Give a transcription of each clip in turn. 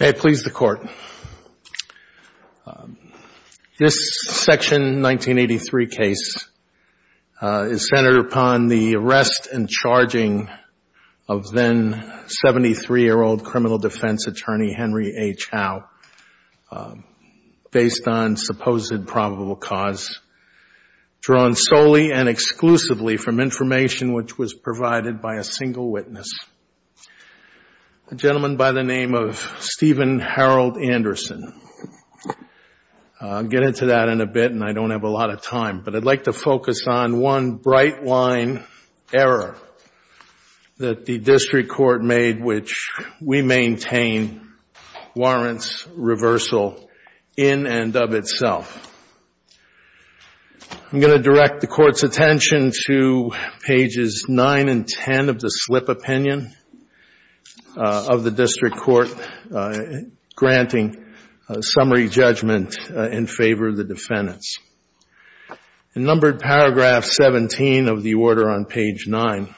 May it please the Court, this Section 1983 case is centered upon the arrest and charging of then 73-year-old criminal defense attorney Henry H. Howe based on supposed probable cause drawn solely and exclusively from information which was provided by a single witness, a gentleman by the name of Steven Harold Anderson. I'll get into that in a bit and I don't have a lot of time, but I'd like to focus on one bright line error that the District Court made which we maintain warrants reversal in and of itself. I'm going to direct the Court's attention to pages 9 and 10 of the slip opinion of the District Court granting summary judgment in favor of the defendants. In numbered paragraph 17 of the order on page 9,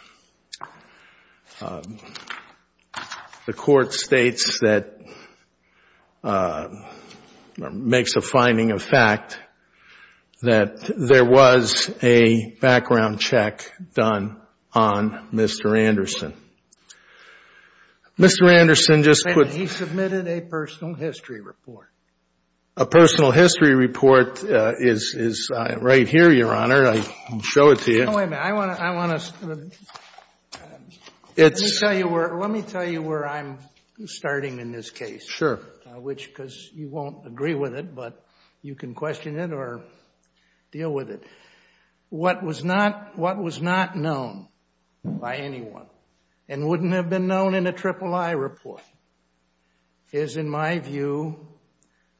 the Court states that, makes a finding of fact, that there was a background check done on Mr. Anderson. Mr. Anderson just put He submitted a personal history report. A personal history report is right here, Your Honor. I can show it to you. Wait a minute. I want to, let me tell you where I'm starting in this case. Sure. Which, because you won't agree with it, but you can question it or deal with it. What was not, what was not known by anyone and wouldn't have been known in a III report is, in my view,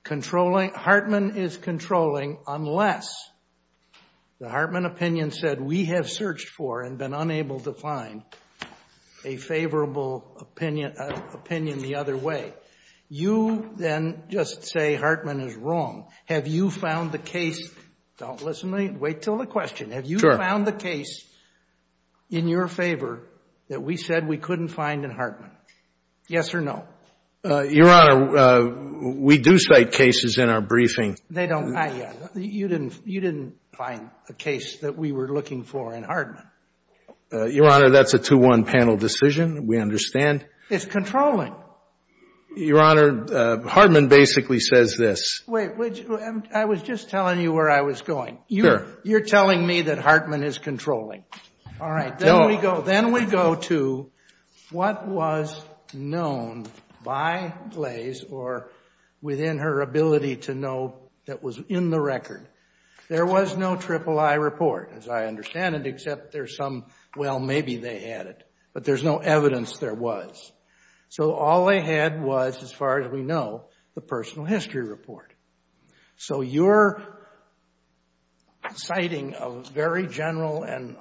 controlling, Hartman is controlling unless the Hartman opinion said we have searched for and been unable to find a favorable opinion the other way. You then just say Hartman is You found the case in your favor that we said we couldn't find in Hartman. Yes or no? Your Honor, we do cite cases in our briefing. They don't, you didn't find a case that we were looking for in Hartman. Your Honor, that's a 2-1 panel decision. We understand. It's controlling. Your Honor, Hartman basically says this. I was just telling you where I was going. You're telling me that Hartman is controlling. All right. Then we go to what was known by Glaze or within her ability to know that was in the record. There was no III report, as I understand it, except there's some, well, maybe they had it. But there's no evidence there was. So all they had was, as far as we know, the personal history report. So you're citing a very general and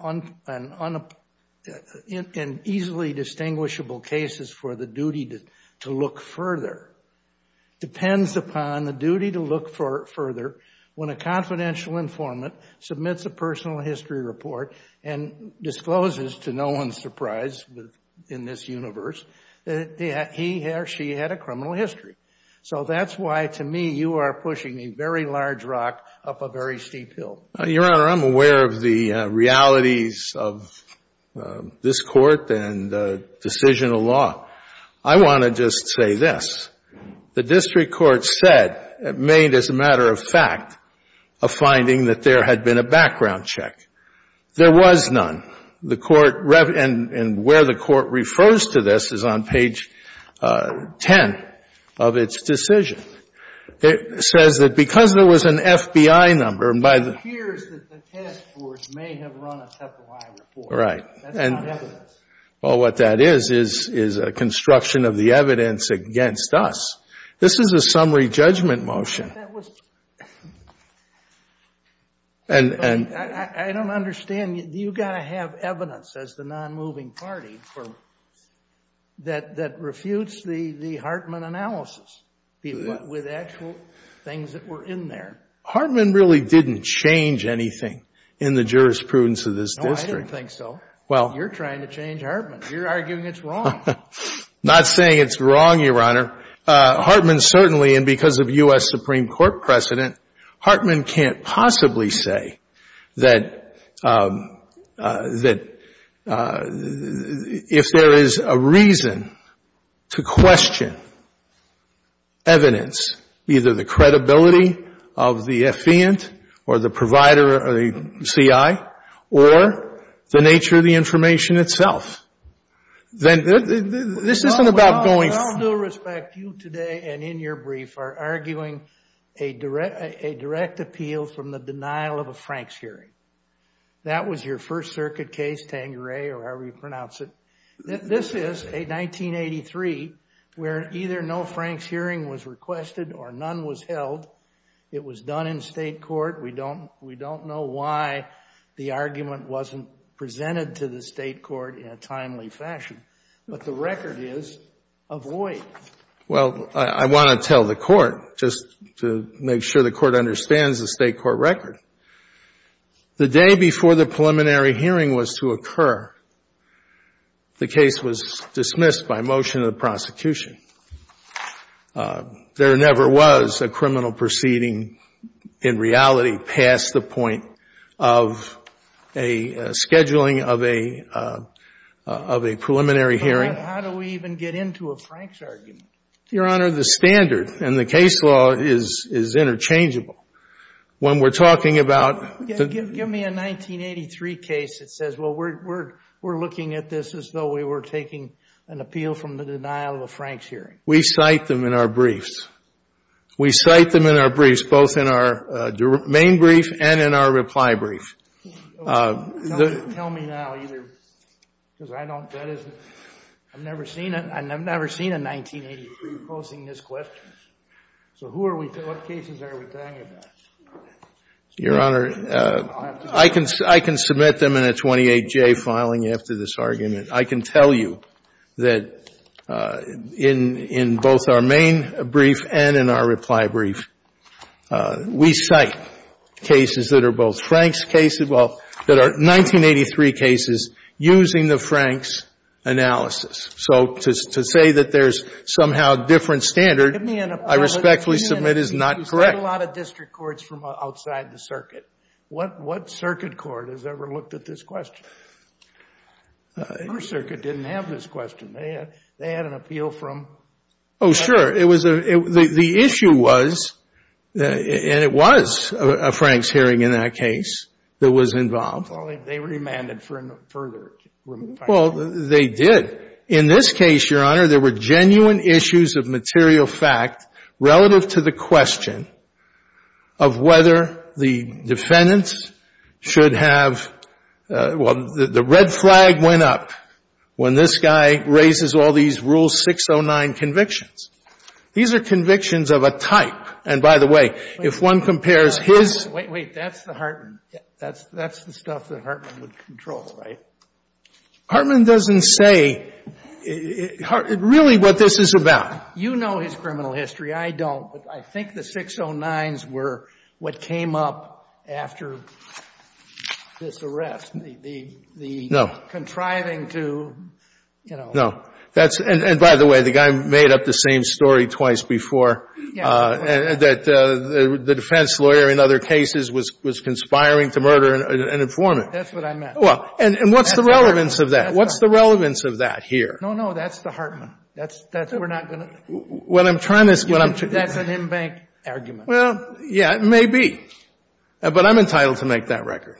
easily distinguishable cases for the duty to look further. Depends upon the duty to look further when a confidential informant submits a personal history report and discloses to no one's surprise in this universe that he or she had a criminal history. So that's why, to me, you are pushing a very large rock up a very steep hill. Your Honor, I'm aware of the realities of this Court and the decision of law. I want to just say this. The district court said, made as a matter of fact, a finding that there had been a background check. There was none. The Court, and where the Court refers to this is on page 10 of its decision. It says that because there was an FBI number by the ---- It appears that the task force may have run a separate report. That's not evidence. Well, what that is is a construction of the evidence against us. This is a summary judgment motion. I don't understand. You've got to have evidence as the non-moving party that refutes the Hartman analysis with actual things that were in there. Hartman really didn't change anything in the jurisprudence of this district. No, I don't think so. You're trying to change Hartman. You're arguing it's wrong. Not saying it's wrong, Your Honor. Hartman certainly, and because of U.S. Supreme Court precedent, Hartman can't possibly say that if there is a reason to question evidence, either the credibility of the affiant or the provider or the CI or the nature of the information itself. Then this isn't about going ---- Well, with all due respect, you today and in your brief are arguing a direct appeal from the denial of a Franks hearing. That was your First Circuit case, Tangeray or however you pronounce it. This is a 1983 where either no Franks hearing was requested or none was held. It was done in state court. We don't know why the argument wasn't presented to the state court in a timely fashion. But the record is a void. Well, I want to tell the court, just to make sure the court understands the state court record. The day before the preliminary hearing was to occur, the case was dismissed by motion of the prosecution. There never was a criminal proceeding in reality past the point of a scheduling of a preliminary hearing. How do we even get into a Franks argument? Your Honor, the standard in the case law is interchangeable. When we're talking about ---- Give me a 1983 case that says, well, we're looking at this as though we were taking an appeal from the denial of a Franks hearing. We cite them in our briefs. We cite them in our briefs, both in our main brief and in our reply brief. Tell me now either because I don't, that isn't, I've never seen it. I've never seen a 1983 posing this question. So who are we, what cases are we talking about? Your Honor, I can, I can submit them in a 28-J filing after this argument. I can tell you that in, in both our main brief and in our reply brief, we cite cases that are both Franks cases, well, that are 1983 cases using the Franks analysis. So to, to say that there's somehow different standard, I respectfully submit is not correct. You've had a lot of district courts from outside the circuit. What, what circuit court has ever looked at this question? Your circuit didn't have this question. They had, they had an appeal from ---- Oh, sure. It was a, the, the issue was, and it was a Franks hearing in that case that was involved. Well, they remanded for further remand. Well, they did. In this case, Your Honor, there were genuine issues of material fact relative to the question of whether the defendants should have, well, the red flag went up when this guy raises all these Rules 609 convictions. These are convictions of a type. And by the way, if one compares his ---- Wait, wait, that's the Hartman, that's, that's the stuff that Hartman would control, right? Hartman doesn't say really what this is about. You know his criminal history. I don't. But I think the 609s were what came up after this arrest. The, the, the contriving to, you know. No. That's, and by the way, the guy made up the same story twice before, that the defense lawyer in other cases was, was conspiring to murder an informant. That's what I meant. Well, and, and what's the relevance of that? What's the relevance of that here? No, no, that's the Hartman. That's, that's, we're not going to. What I'm trying to, what I'm trying to. That's an in-bank argument. Well, yeah, it may be. But I'm entitled to make that record.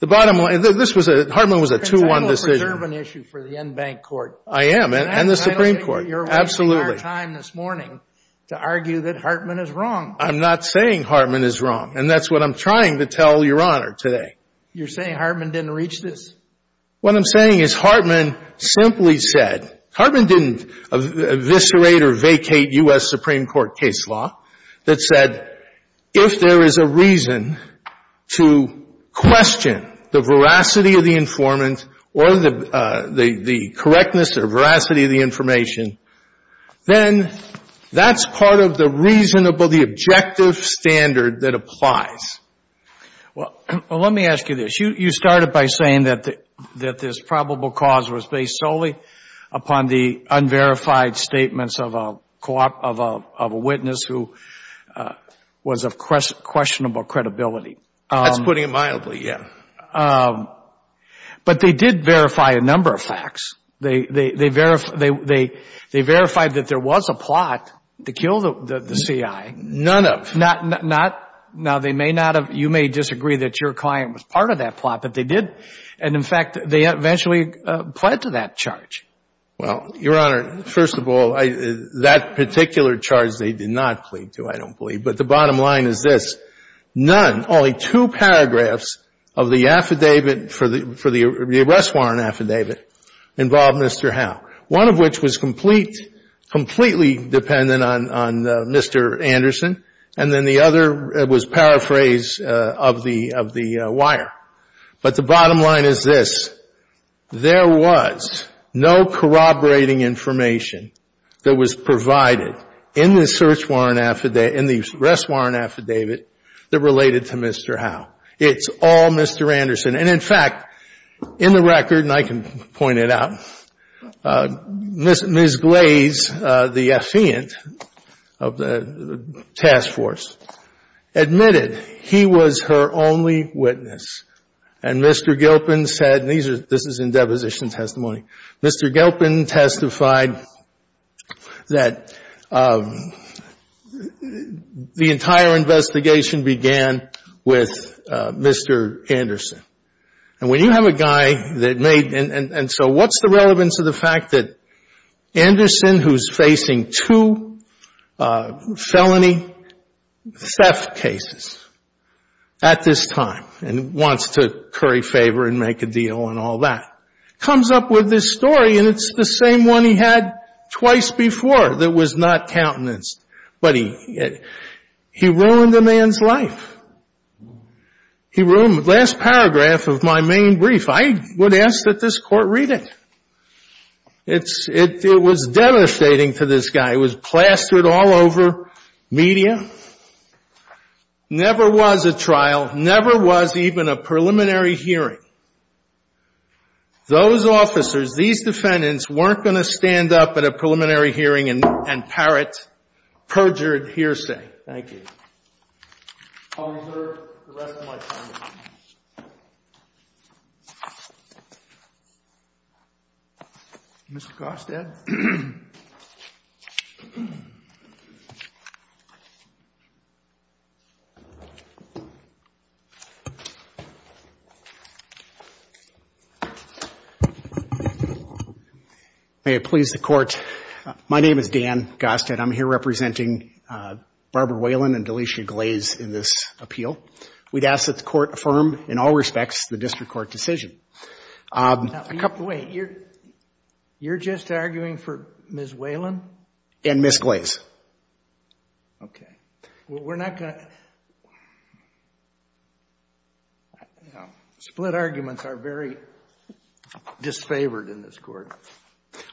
The bottom line, this was a, Hartman was a 2-1 decision. It's a little preserving issue for the in-bank court. I am, and the Supreme Court. Absolutely. And I don't think you're wasting our time this morning to argue that Hartman is wrong. I'm not saying Hartman is wrong. And that's what I'm trying to tell Your Honor today. You're saying Hartman didn't reach this? What I'm saying is Hartman simply said. Hartman didn't eviscerate or vacate U.S. Supreme Court case law that said, if there is a reason to question the veracity of the informant or the, the correctness or veracity of the information, then that's part of the reasonable, the objective standard that applies. Well, let me ask you this. You started by saying that this probable cause was based solely upon the unverified statements of a witness who was of questionable credibility. That's putting it mildly, yeah. But they did verify a number of facts. They verified that there was a plot to kill the CIA. None of. Not, not, now they may not have, you may disagree that your client was part of that plot, but they did. And, in fact, they eventually pled to that charge. Well, Your Honor, first of all, that particular charge they did not plead to, I don't believe. But the bottom line is this. None, only two paragraphs of the affidavit for the, for the arrest warrant affidavit involved Mr. Howe. One of which was complete, completely dependent on Mr. Anderson. And then the other was paraphrase of the wire. But the bottom line is this. There was no corroborating information that was provided in the search warrant affidavit, in the arrest warrant affidavit that related to Mr. Howe. It's all Mr. Anderson. And, in fact, in the record, and I can point it out, Ms. Glaze, the affiant of the task force, admitted he was her only witness. And Mr. Gilpin said, and these are, this is in deposition testimony, Mr. Gilpin testified that the entire investigation began with Mr. Anderson. And when you have a guy that made, and so what's the relevance of the fact that Anderson, who's facing two felony theft cases at this time, and wants to curry favor and make a deal and all that, comes up with this story and it's the same one he had twice before that was not countenanced. But he ruined a man's life. He ruined the last paragraph of my main brief. I would ask that this Court read it. It was devastating to this guy. It was plastered all over media. Never was a trial, never was even a preliminary hearing. Those officers, these defendants, weren't going to stand up at a preliminary hearing and parrot perjured hearsay. Thank you. I'll reserve the rest of my time. Thank you. Mr. Gostad. May it please the Court. My name is Dan Gostad. I'm here representing Barbara Whalen and Delicia Glaze in this appeal. We'd ask that the Court affirm in all respects the district court decision. Wait. You're just arguing for Ms. Whalen? And Ms. Glaze. Okay. Well, we're not going to split arguments are very disfavored in this court.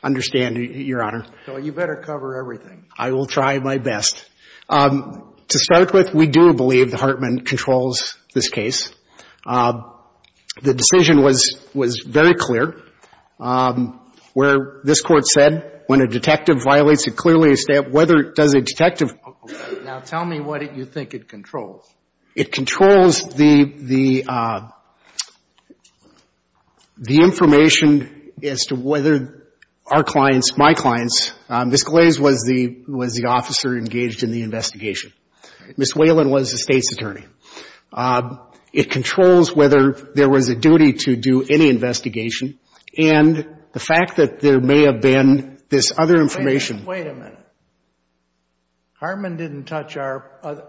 I understand, Your Honor. So you better cover everything. I will try my best. To start with, we do believe that Hartman controls this case. The decision was very clear. Where this Court said, when a detective violates it clearly, whether it does a detective Now, tell me what you think it controls. It controls the information as to whether our clients, my clients, Ms. Glaze was the investigation. Ms. Whalen was the State's attorney. It controls whether there was a duty to do any investigation. And the fact that there may have been this other information Wait a minute. Hartman didn't touch our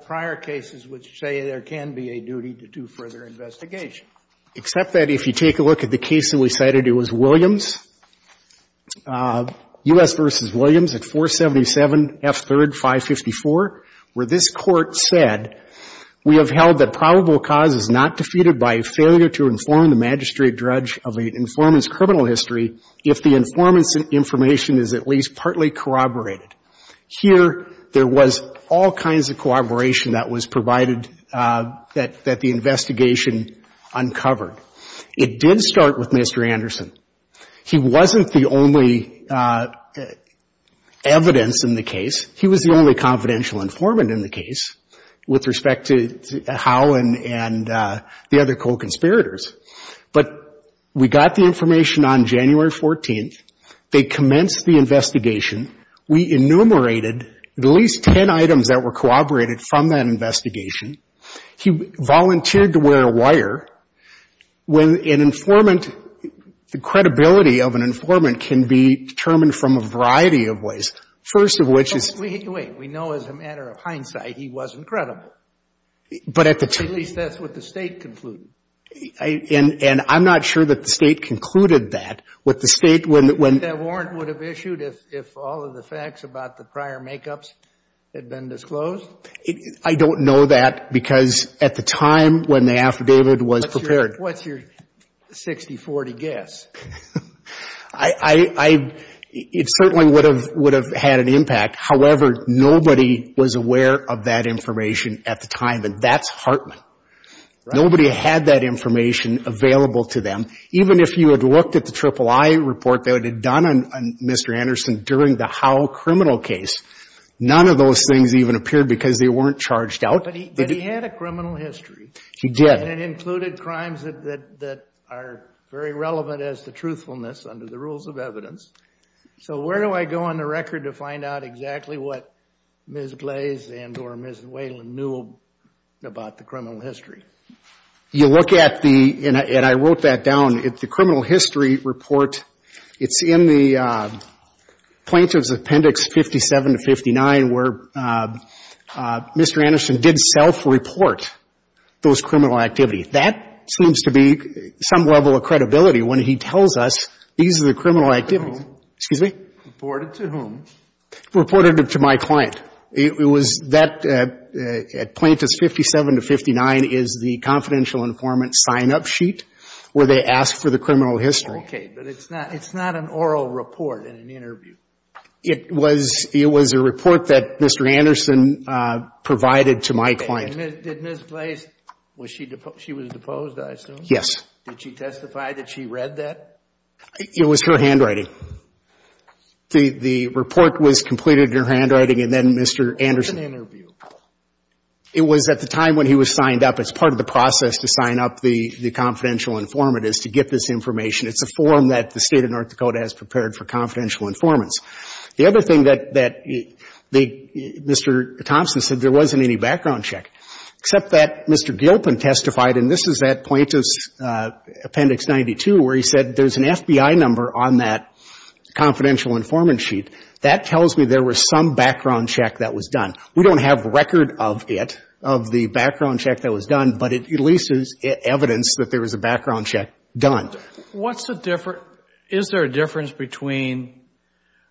prior cases which say there can be a duty to do further investigation. Except that if you take a look at the case that we cited, it was Williams. U.S. v. Williams at 477 F3rd 554, where this Court said, Here, there was all kinds of corroboration that was provided that the investigation uncovered. It did start with Mr. Anderson. He wasn't the only evidence in the case. He was the only confidential informant in the case with respect to Howe and the other co-conspirators. But we got the information on January 14th. They commenced the investigation. We enumerated at least 10 items that were corroborated from that investigation. He volunteered to wear a wire. When an informant, the credibility of an informant can be determined from a variety of ways. First of which is Wait. We know as a matter of hindsight he wasn't credible. But at the time At least that's what the State concluded. And I'm not sure that the State concluded that. Would the State, when That warrant would have issued if all of the facts about the prior make-ups had been disclosed? I don't know that because at the time when the affidavit was prepared What's your 60-40 guess? It certainly would have had an impact. However, nobody was aware of that information at the time. And that's Hartman. Nobody had that information available to them. Even if you had looked at the III report they had done on Mr. Anderson during the Howe criminal case. None of those things even appeared because they weren't charged out. But he had a criminal history. He did. And it included crimes that are very relevant as to truthfulness under the rules of evidence. So where do I go on the record to find out exactly what Ms. Glaze and or Ms. Wayland knew about the criminal history? You look at the, and I wrote that down, the criminal history report, it's in plaintiff's appendix 57 to 59 where Mr. Anderson did self-report those criminal activities. That seems to be some level of credibility when he tells us these are the criminal activities. Excuse me? Reported to whom? Reported to my client. It was that at plaintiff's 57 to 59 is the confidential informant sign-up sheet where they ask for the criminal history. Okay. But it's not an oral report in an interview. It was a report that Mr. Anderson provided to my client. Did Ms. Glaze, she was deposed I assume? Yes. Did she testify that she read that? It was her handwriting. The report was completed in her handwriting and then Mr. Anderson. It was an interview. It was at the time when he was signed up. It's part of the process to sign up the confidential informant is to get this information. It's a form that the State of North Dakota has prepared for confidential informants. The other thing that Mr. Thompson said, there wasn't any background check, except that Mr. Gilpin testified, and this is at plaintiff's appendix 92 where he said there's an FBI number on that confidential informant sheet. That tells me there was some background check that was done. We don't have a record of it, of the background check that was done, but it at least is evidence that there was a background check done. What's the difference? Is there a difference between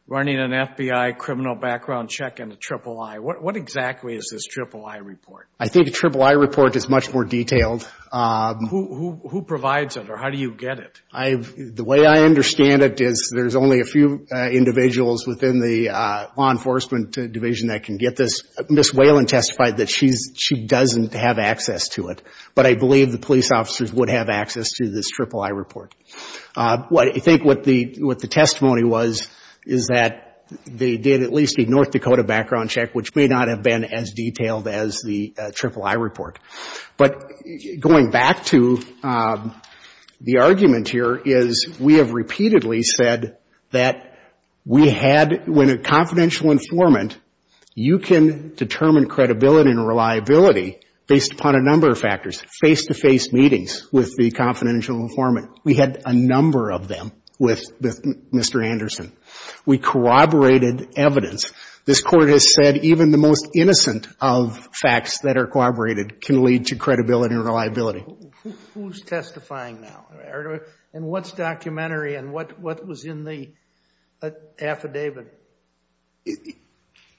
running an FBI criminal background check and a triple I? What exactly is this triple I report? I think a triple I report is much more detailed. Who provides it or how do you get it? The way I understand it is there's only a few individuals within the law enforcement division that can get this. Ms. Whalen testified that she doesn't have access to it, but I believe the police officers would have access to this triple I report. I think what the testimony was is that they did at least a North Dakota background check, which may not have been as detailed as the triple I report. But going back to the argument here is we have repeatedly said that we had, when you're a confidential informant, you can determine credibility and reliability based upon a number of factors, face-to-face meetings with the confidential informant. We had a number of them with Mr. Anderson. We corroborated evidence. This Court has said even the most innocent of facts that are corroborated can lead to credibility and reliability. Who's testifying now? What's documentary and what was in the affidavit?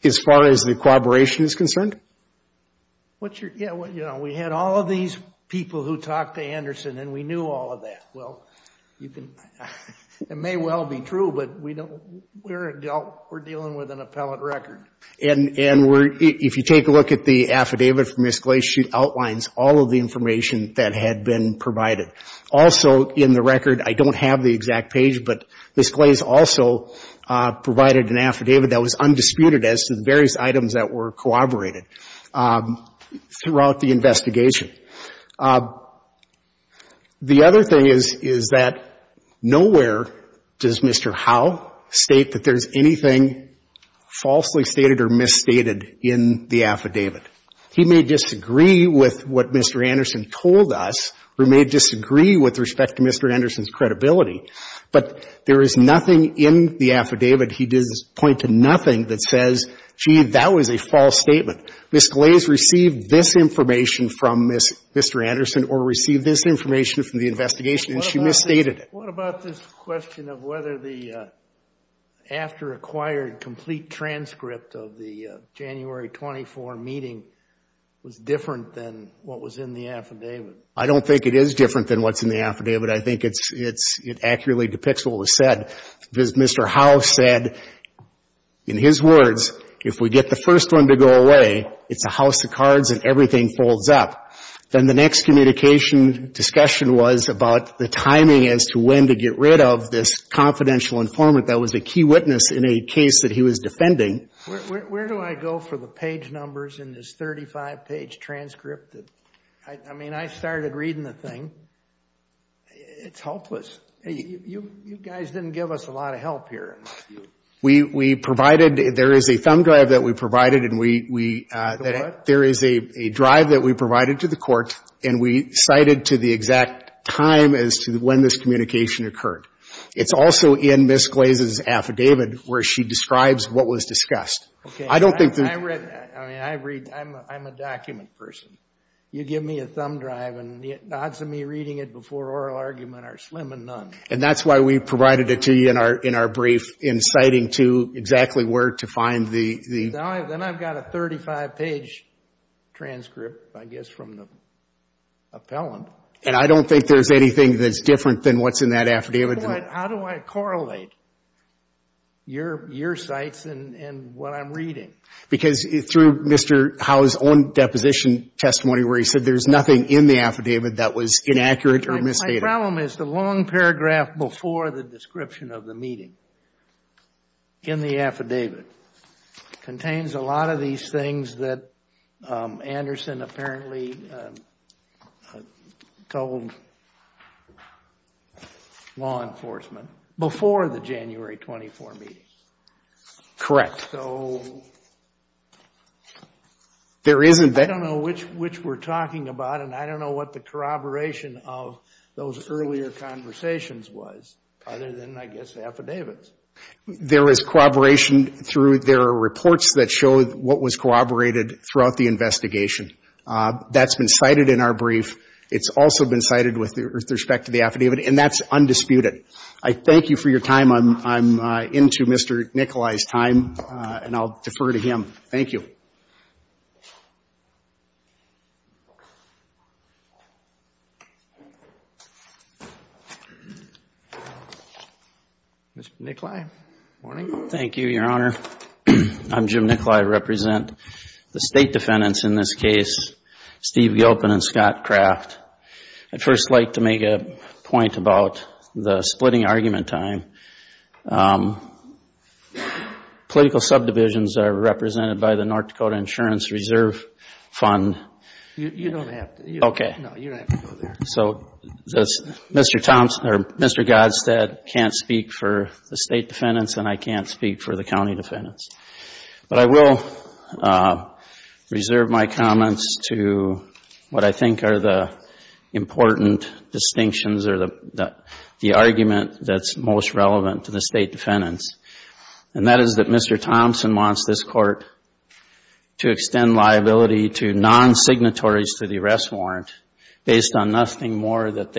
As far as the corroboration is concerned? We had all of these people who talked to Anderson and we knew all of that. It may well be true, but we're dealing with an appellate record. If you take a look at the affidavit from Ms. Glacier, she outlines all of the information that had been provided. Also in the record, I don't have the exact page, but Ms. Glacier also provided an affidavit that was undisputed as to the various items that were corroborated throughout the investigation. The other thing is, is that nowhere does Mr. Howe state that there's anything falsely stated or misstated in the affidavit. He may disagree with what Mr. Anderson told us or may disagree with respect to Mr. Anderson's credibility, but there is nothing in the affidavit. He doesn't point to nothing that says, gee, that was a false statement. Ms. Glazer received this information from Mr. Anderson or received this information from the investigation and she misstated it. What about this question of whether the after acquired complete transcript of the January 24 meeting was different than what was in the affidavit? I don't think it is different than what's in the affidavit. I think it accurately depicts what was said. Mr. Howe said, in his words, if we get the first one to go away, it's a house of cards and everything folds up. Then the next communication discussion was about the timing as to when to get rid of this confidential informant that was a key witness in a case that he was defending. Where do I go for the page numbers in this 35-page transcript? I mean, I started reading the thing. It's hopeless. You guys didn't give us a lot of help here. We provided, there is a thumb drive that we provided. There is a drive that we provided to the court and we cited to the exact time as to when this communication occurred. It's also in Ms. Glaze's affidavit where she describes what was discussed. I don't think that... I read, I'm a document person. You give me a thumb drive and the odds of me reading it before oral argument are slim and none. And that's why we provided it to you in our brief in citing to exactly where to find the... Then I've got a 35-page transcript, I guess, from the appellant. And I don't think there's anything that's different than what's in that affidavit. How do I correlate your sites and what I'm reading? Because through Mr. Howe's own deposition testimony where he said there's nothing in the affidavit that was inaccurate or misstated. My problem is the long paragraph before the description of the meeting in the affidavit contains a lot of these things that Anderson apparently told law enforcement before the January 24 meetings. Correct. So... There isn't that... I don't know which we're talking about and I don't know what the corroboration of those earlier conversations was other than, I guess, the affidavits. There was corroboration through their reports that showed what was corroborated throughout the investigation. That's been cited in our brief. It's also been cited with respect to the affidavit. And that's undisputed. I thank you for your time. I'm into Mr. Nikolai's time and I'll defer to him. Thank you. Thank you. Mr. Nikolai. Good morning. Thank you, Your Honor. I'm Jim Nikolai. I represent the state defendants in this case, Steve Gilpin and Scott Kraft. I'd first like to make a point about the splitting argument time. Political subdivisions are represented by the North Dakota Insurance Reserve Fund. You don't have to. Okay. No, you don't have to go there. So, Mr. Thompson or Mr. Godstead can't speak for the state defendants and I can't speak for the county defendants. But I will reserve my comments to what I think are the important distinctions or the argument that's most relevant to the state defendants. And that is that Mr. Thompson wants this court to extend liability to non-signatories to the arrest warrant based on nothing more that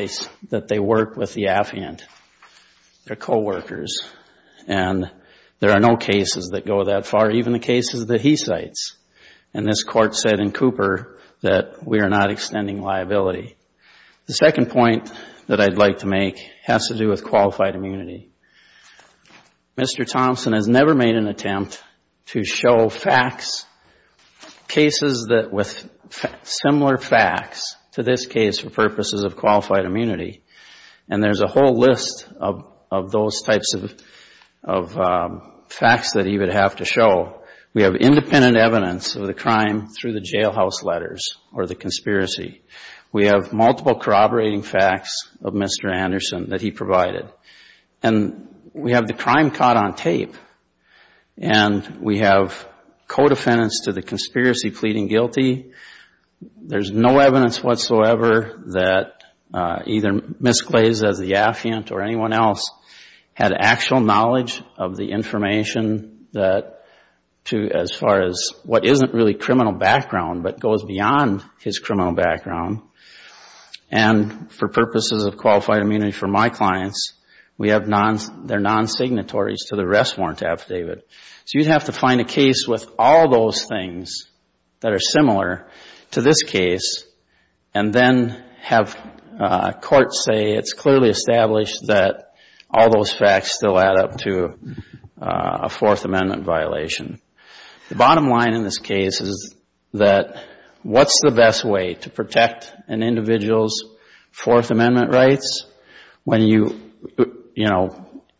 they work with the affiant. They're coworkers. And there are no cases that go that far, even the cases that he cites. And this court said in Cooper that we are not extending liability. The second point that I'd like to make has to do with qualified immunity. Mr. Thompson has never made an attempt to show facts, cases with similar facts to this case for purposes of qualified immunity. And there's a whole list of those types of facts that he would have to show. We have independent evidence of the crime through the jailhouse letters or the conspiracy. We have multiple corroborating facts of Mr. Anderson that he provided. And we have the crime caught on tape. And we have co-defendants to the conspiracy pleading guilty. There's no evidence whatsoever that either Ms. Glaze as the affiant or anyone else had actual knowledge of the information as far as what isn't really criminal background but goes beyond his criminal background. And for purposes of qualified immunity for my clients, we have their non-signatories to the arrest warrant affidavit. So you'd have to find a case with all those things that are similar to this case and then have courts say it's clearly established that all those facts still add up to a Fourth Amendment violation. The bottom line in this case is that what's the best way to protect an individual's Fourth Amendment rights when you, you know,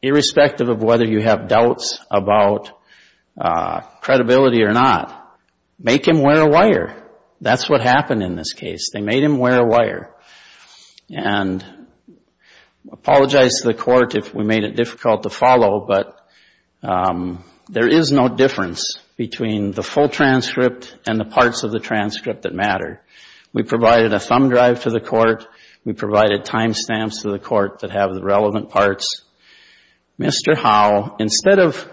irrespective of whether you have doubts about credibility or not, make him wear a wire. That's what happened in this case. They made him wear a wire. And I apologize to the court if we made it difficult to follow, but there is no difference between the full transcript and the parts of the transcript that matter. We provided a thumb drive to the court. We provided time stamps to the court that have the relevant parts. Mr. Howe, instead of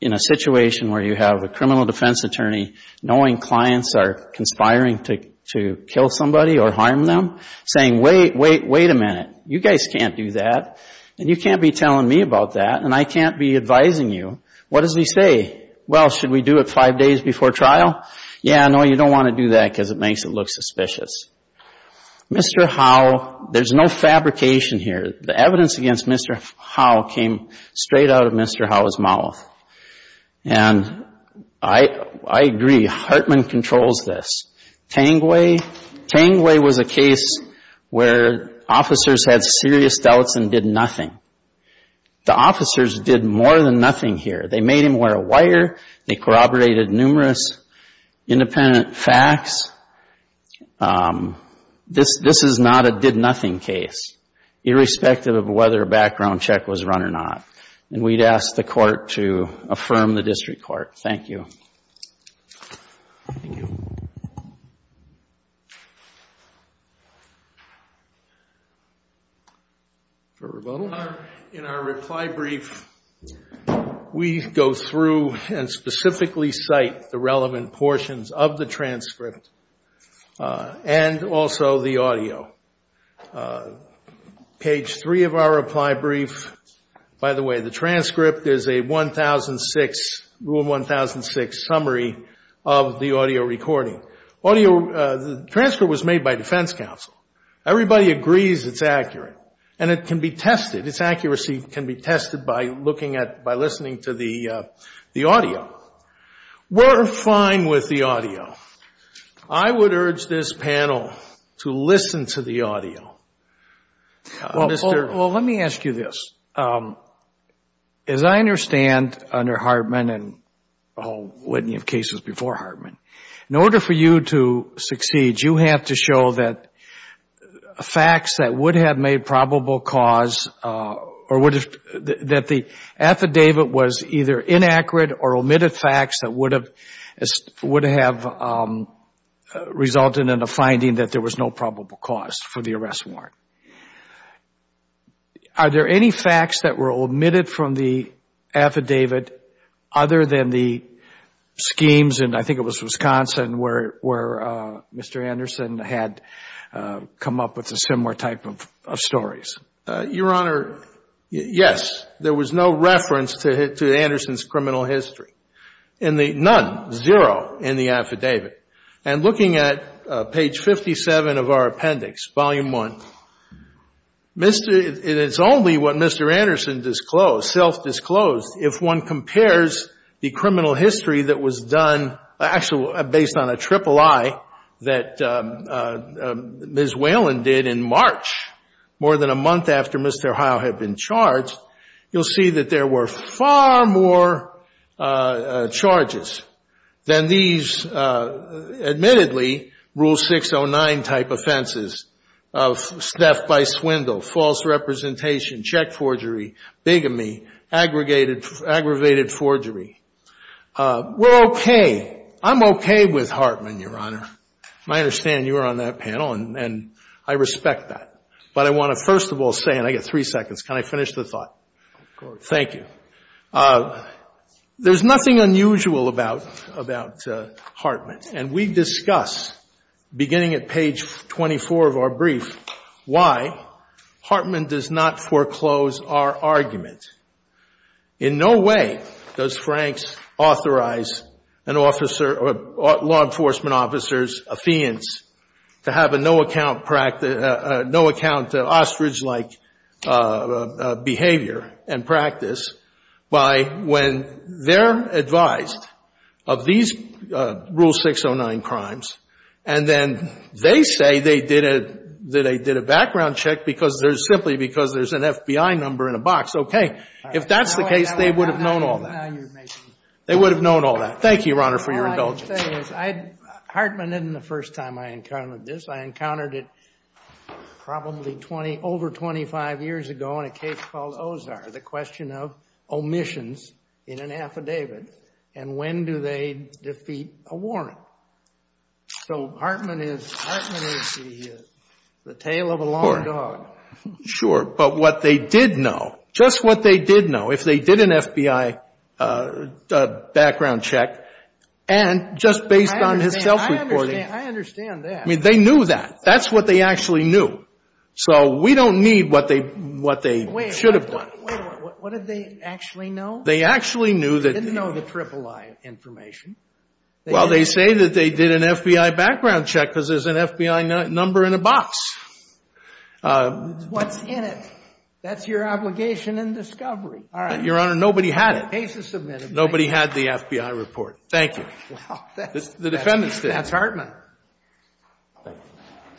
in a situation where you have a criminal defense attorney knowing clients are conspiring to kill somebody or harm them, saying, wait, wait, wait a minute, you guys can't do that and you can't be telling me about that and I can't be advising you, what does he say? Well, should we do it five days before trial? Yeah, no, you don't want to do that because it makes it look suspicious. Mr. Howe, there's no fabrication here. The evidence against Mr. Howe came straight out of Mr. Howe's mouth. And I agree. Hartman controls this. Tangway, Tangway was a case where officers had serious doubts and did nothing. The officers did more than nothing here. They made him wear a wire. They corroborated numerous independent facts. This is not a did-nothing case, irrespective of whether a background check was run or not. And we'd ask the court to affirm the district court. Thank you. Thank you. Thank you. In our reply brief, we go through and specifically cite the relevant portions of the transcript and also the audio. Page three of our reply brief. By the way, the transcript is a rule 1006 summary of the audio recording. The transcript was made by defense counsel. Everybody agrees it's accurate. And it can be tested. Its accuracy can be tested by listening to the audio. We're fine with the audio. I would urge this panel to listen to the audio. Well, let me ask you this. As I understand, under Hartman and a whole witney of cases before Hartman, in order for you to succeed, you have to show that facts that would have made probable cause or that the affidavit was either inaccurate or omitted facts that would have resulted in a finding that there was no probable cause for the arrest warrant. Are there any facts that were omitted from the affidavit other than the schemes, and I think it was Wisconsin where Mr. Anderson had come up with a similar type of stories? Your Honor, yes. There was no reference to Anderson's criminal history. None. Zero in the affidavit. And looking at page 57 of our appendix, volume one, it's only what Mr. Anderson disclosed, self-disclosed, if one compares the criminal history that was done actually based on a triple I that Ms. Whalen did in March, more than a month after Mr. Howe had been charged, you'll see that there were far more charges than these admittedly Rule 609-type offenses of theft by swindle, false representation, check forgery, bigamy, aggravated forgery. We're okay. I'm okay with Hartman, Your Honor. I understand you were on that panel, and I respect that. But I want to first of all say, and I get three seconds, can I finish the thought? Of course. Thank you. There's nothing unusual about Hartman, and we discuss beginning at page 24 of our brief why Hartman does not foreclose our argument. In no way does Franks authorize an officer or law enforcement officers, a fiance, to have a no-account ostrich-like behavior and practice by when they're advised of these Rule 609 crimes, and then they say they did a background check simply because there's an FBI number in a box. Okay. If that's the case, they would have known all that. They would have known all that. Thank you, Your Honor, for your indulgence. All I can say is Hartman isn't the first time I encountered this. I encountered it probably over 25 years ago in a case called Ozar, the question of omissions in an affidavit, and when do they defeat a warrant. So Hartman is the tale of a long dog. Sure. But what they did know, just what they did know, if they did an FBI background check, and just based on his self-reporting. I understand that. I mean, they knew that. That's what they actually knew. So we don't need what they should have done. Wait, what did they actually know? They actually knew that. They didn't know the III information. Well, they say that they did an FBI background check because there's an FBI number in a box. What's in it? That's your obligation in discovery. Your Honor, nobody had it. The case is submitted. Nobody had the FBI report. Thank you. The defendants did. That's Hartman.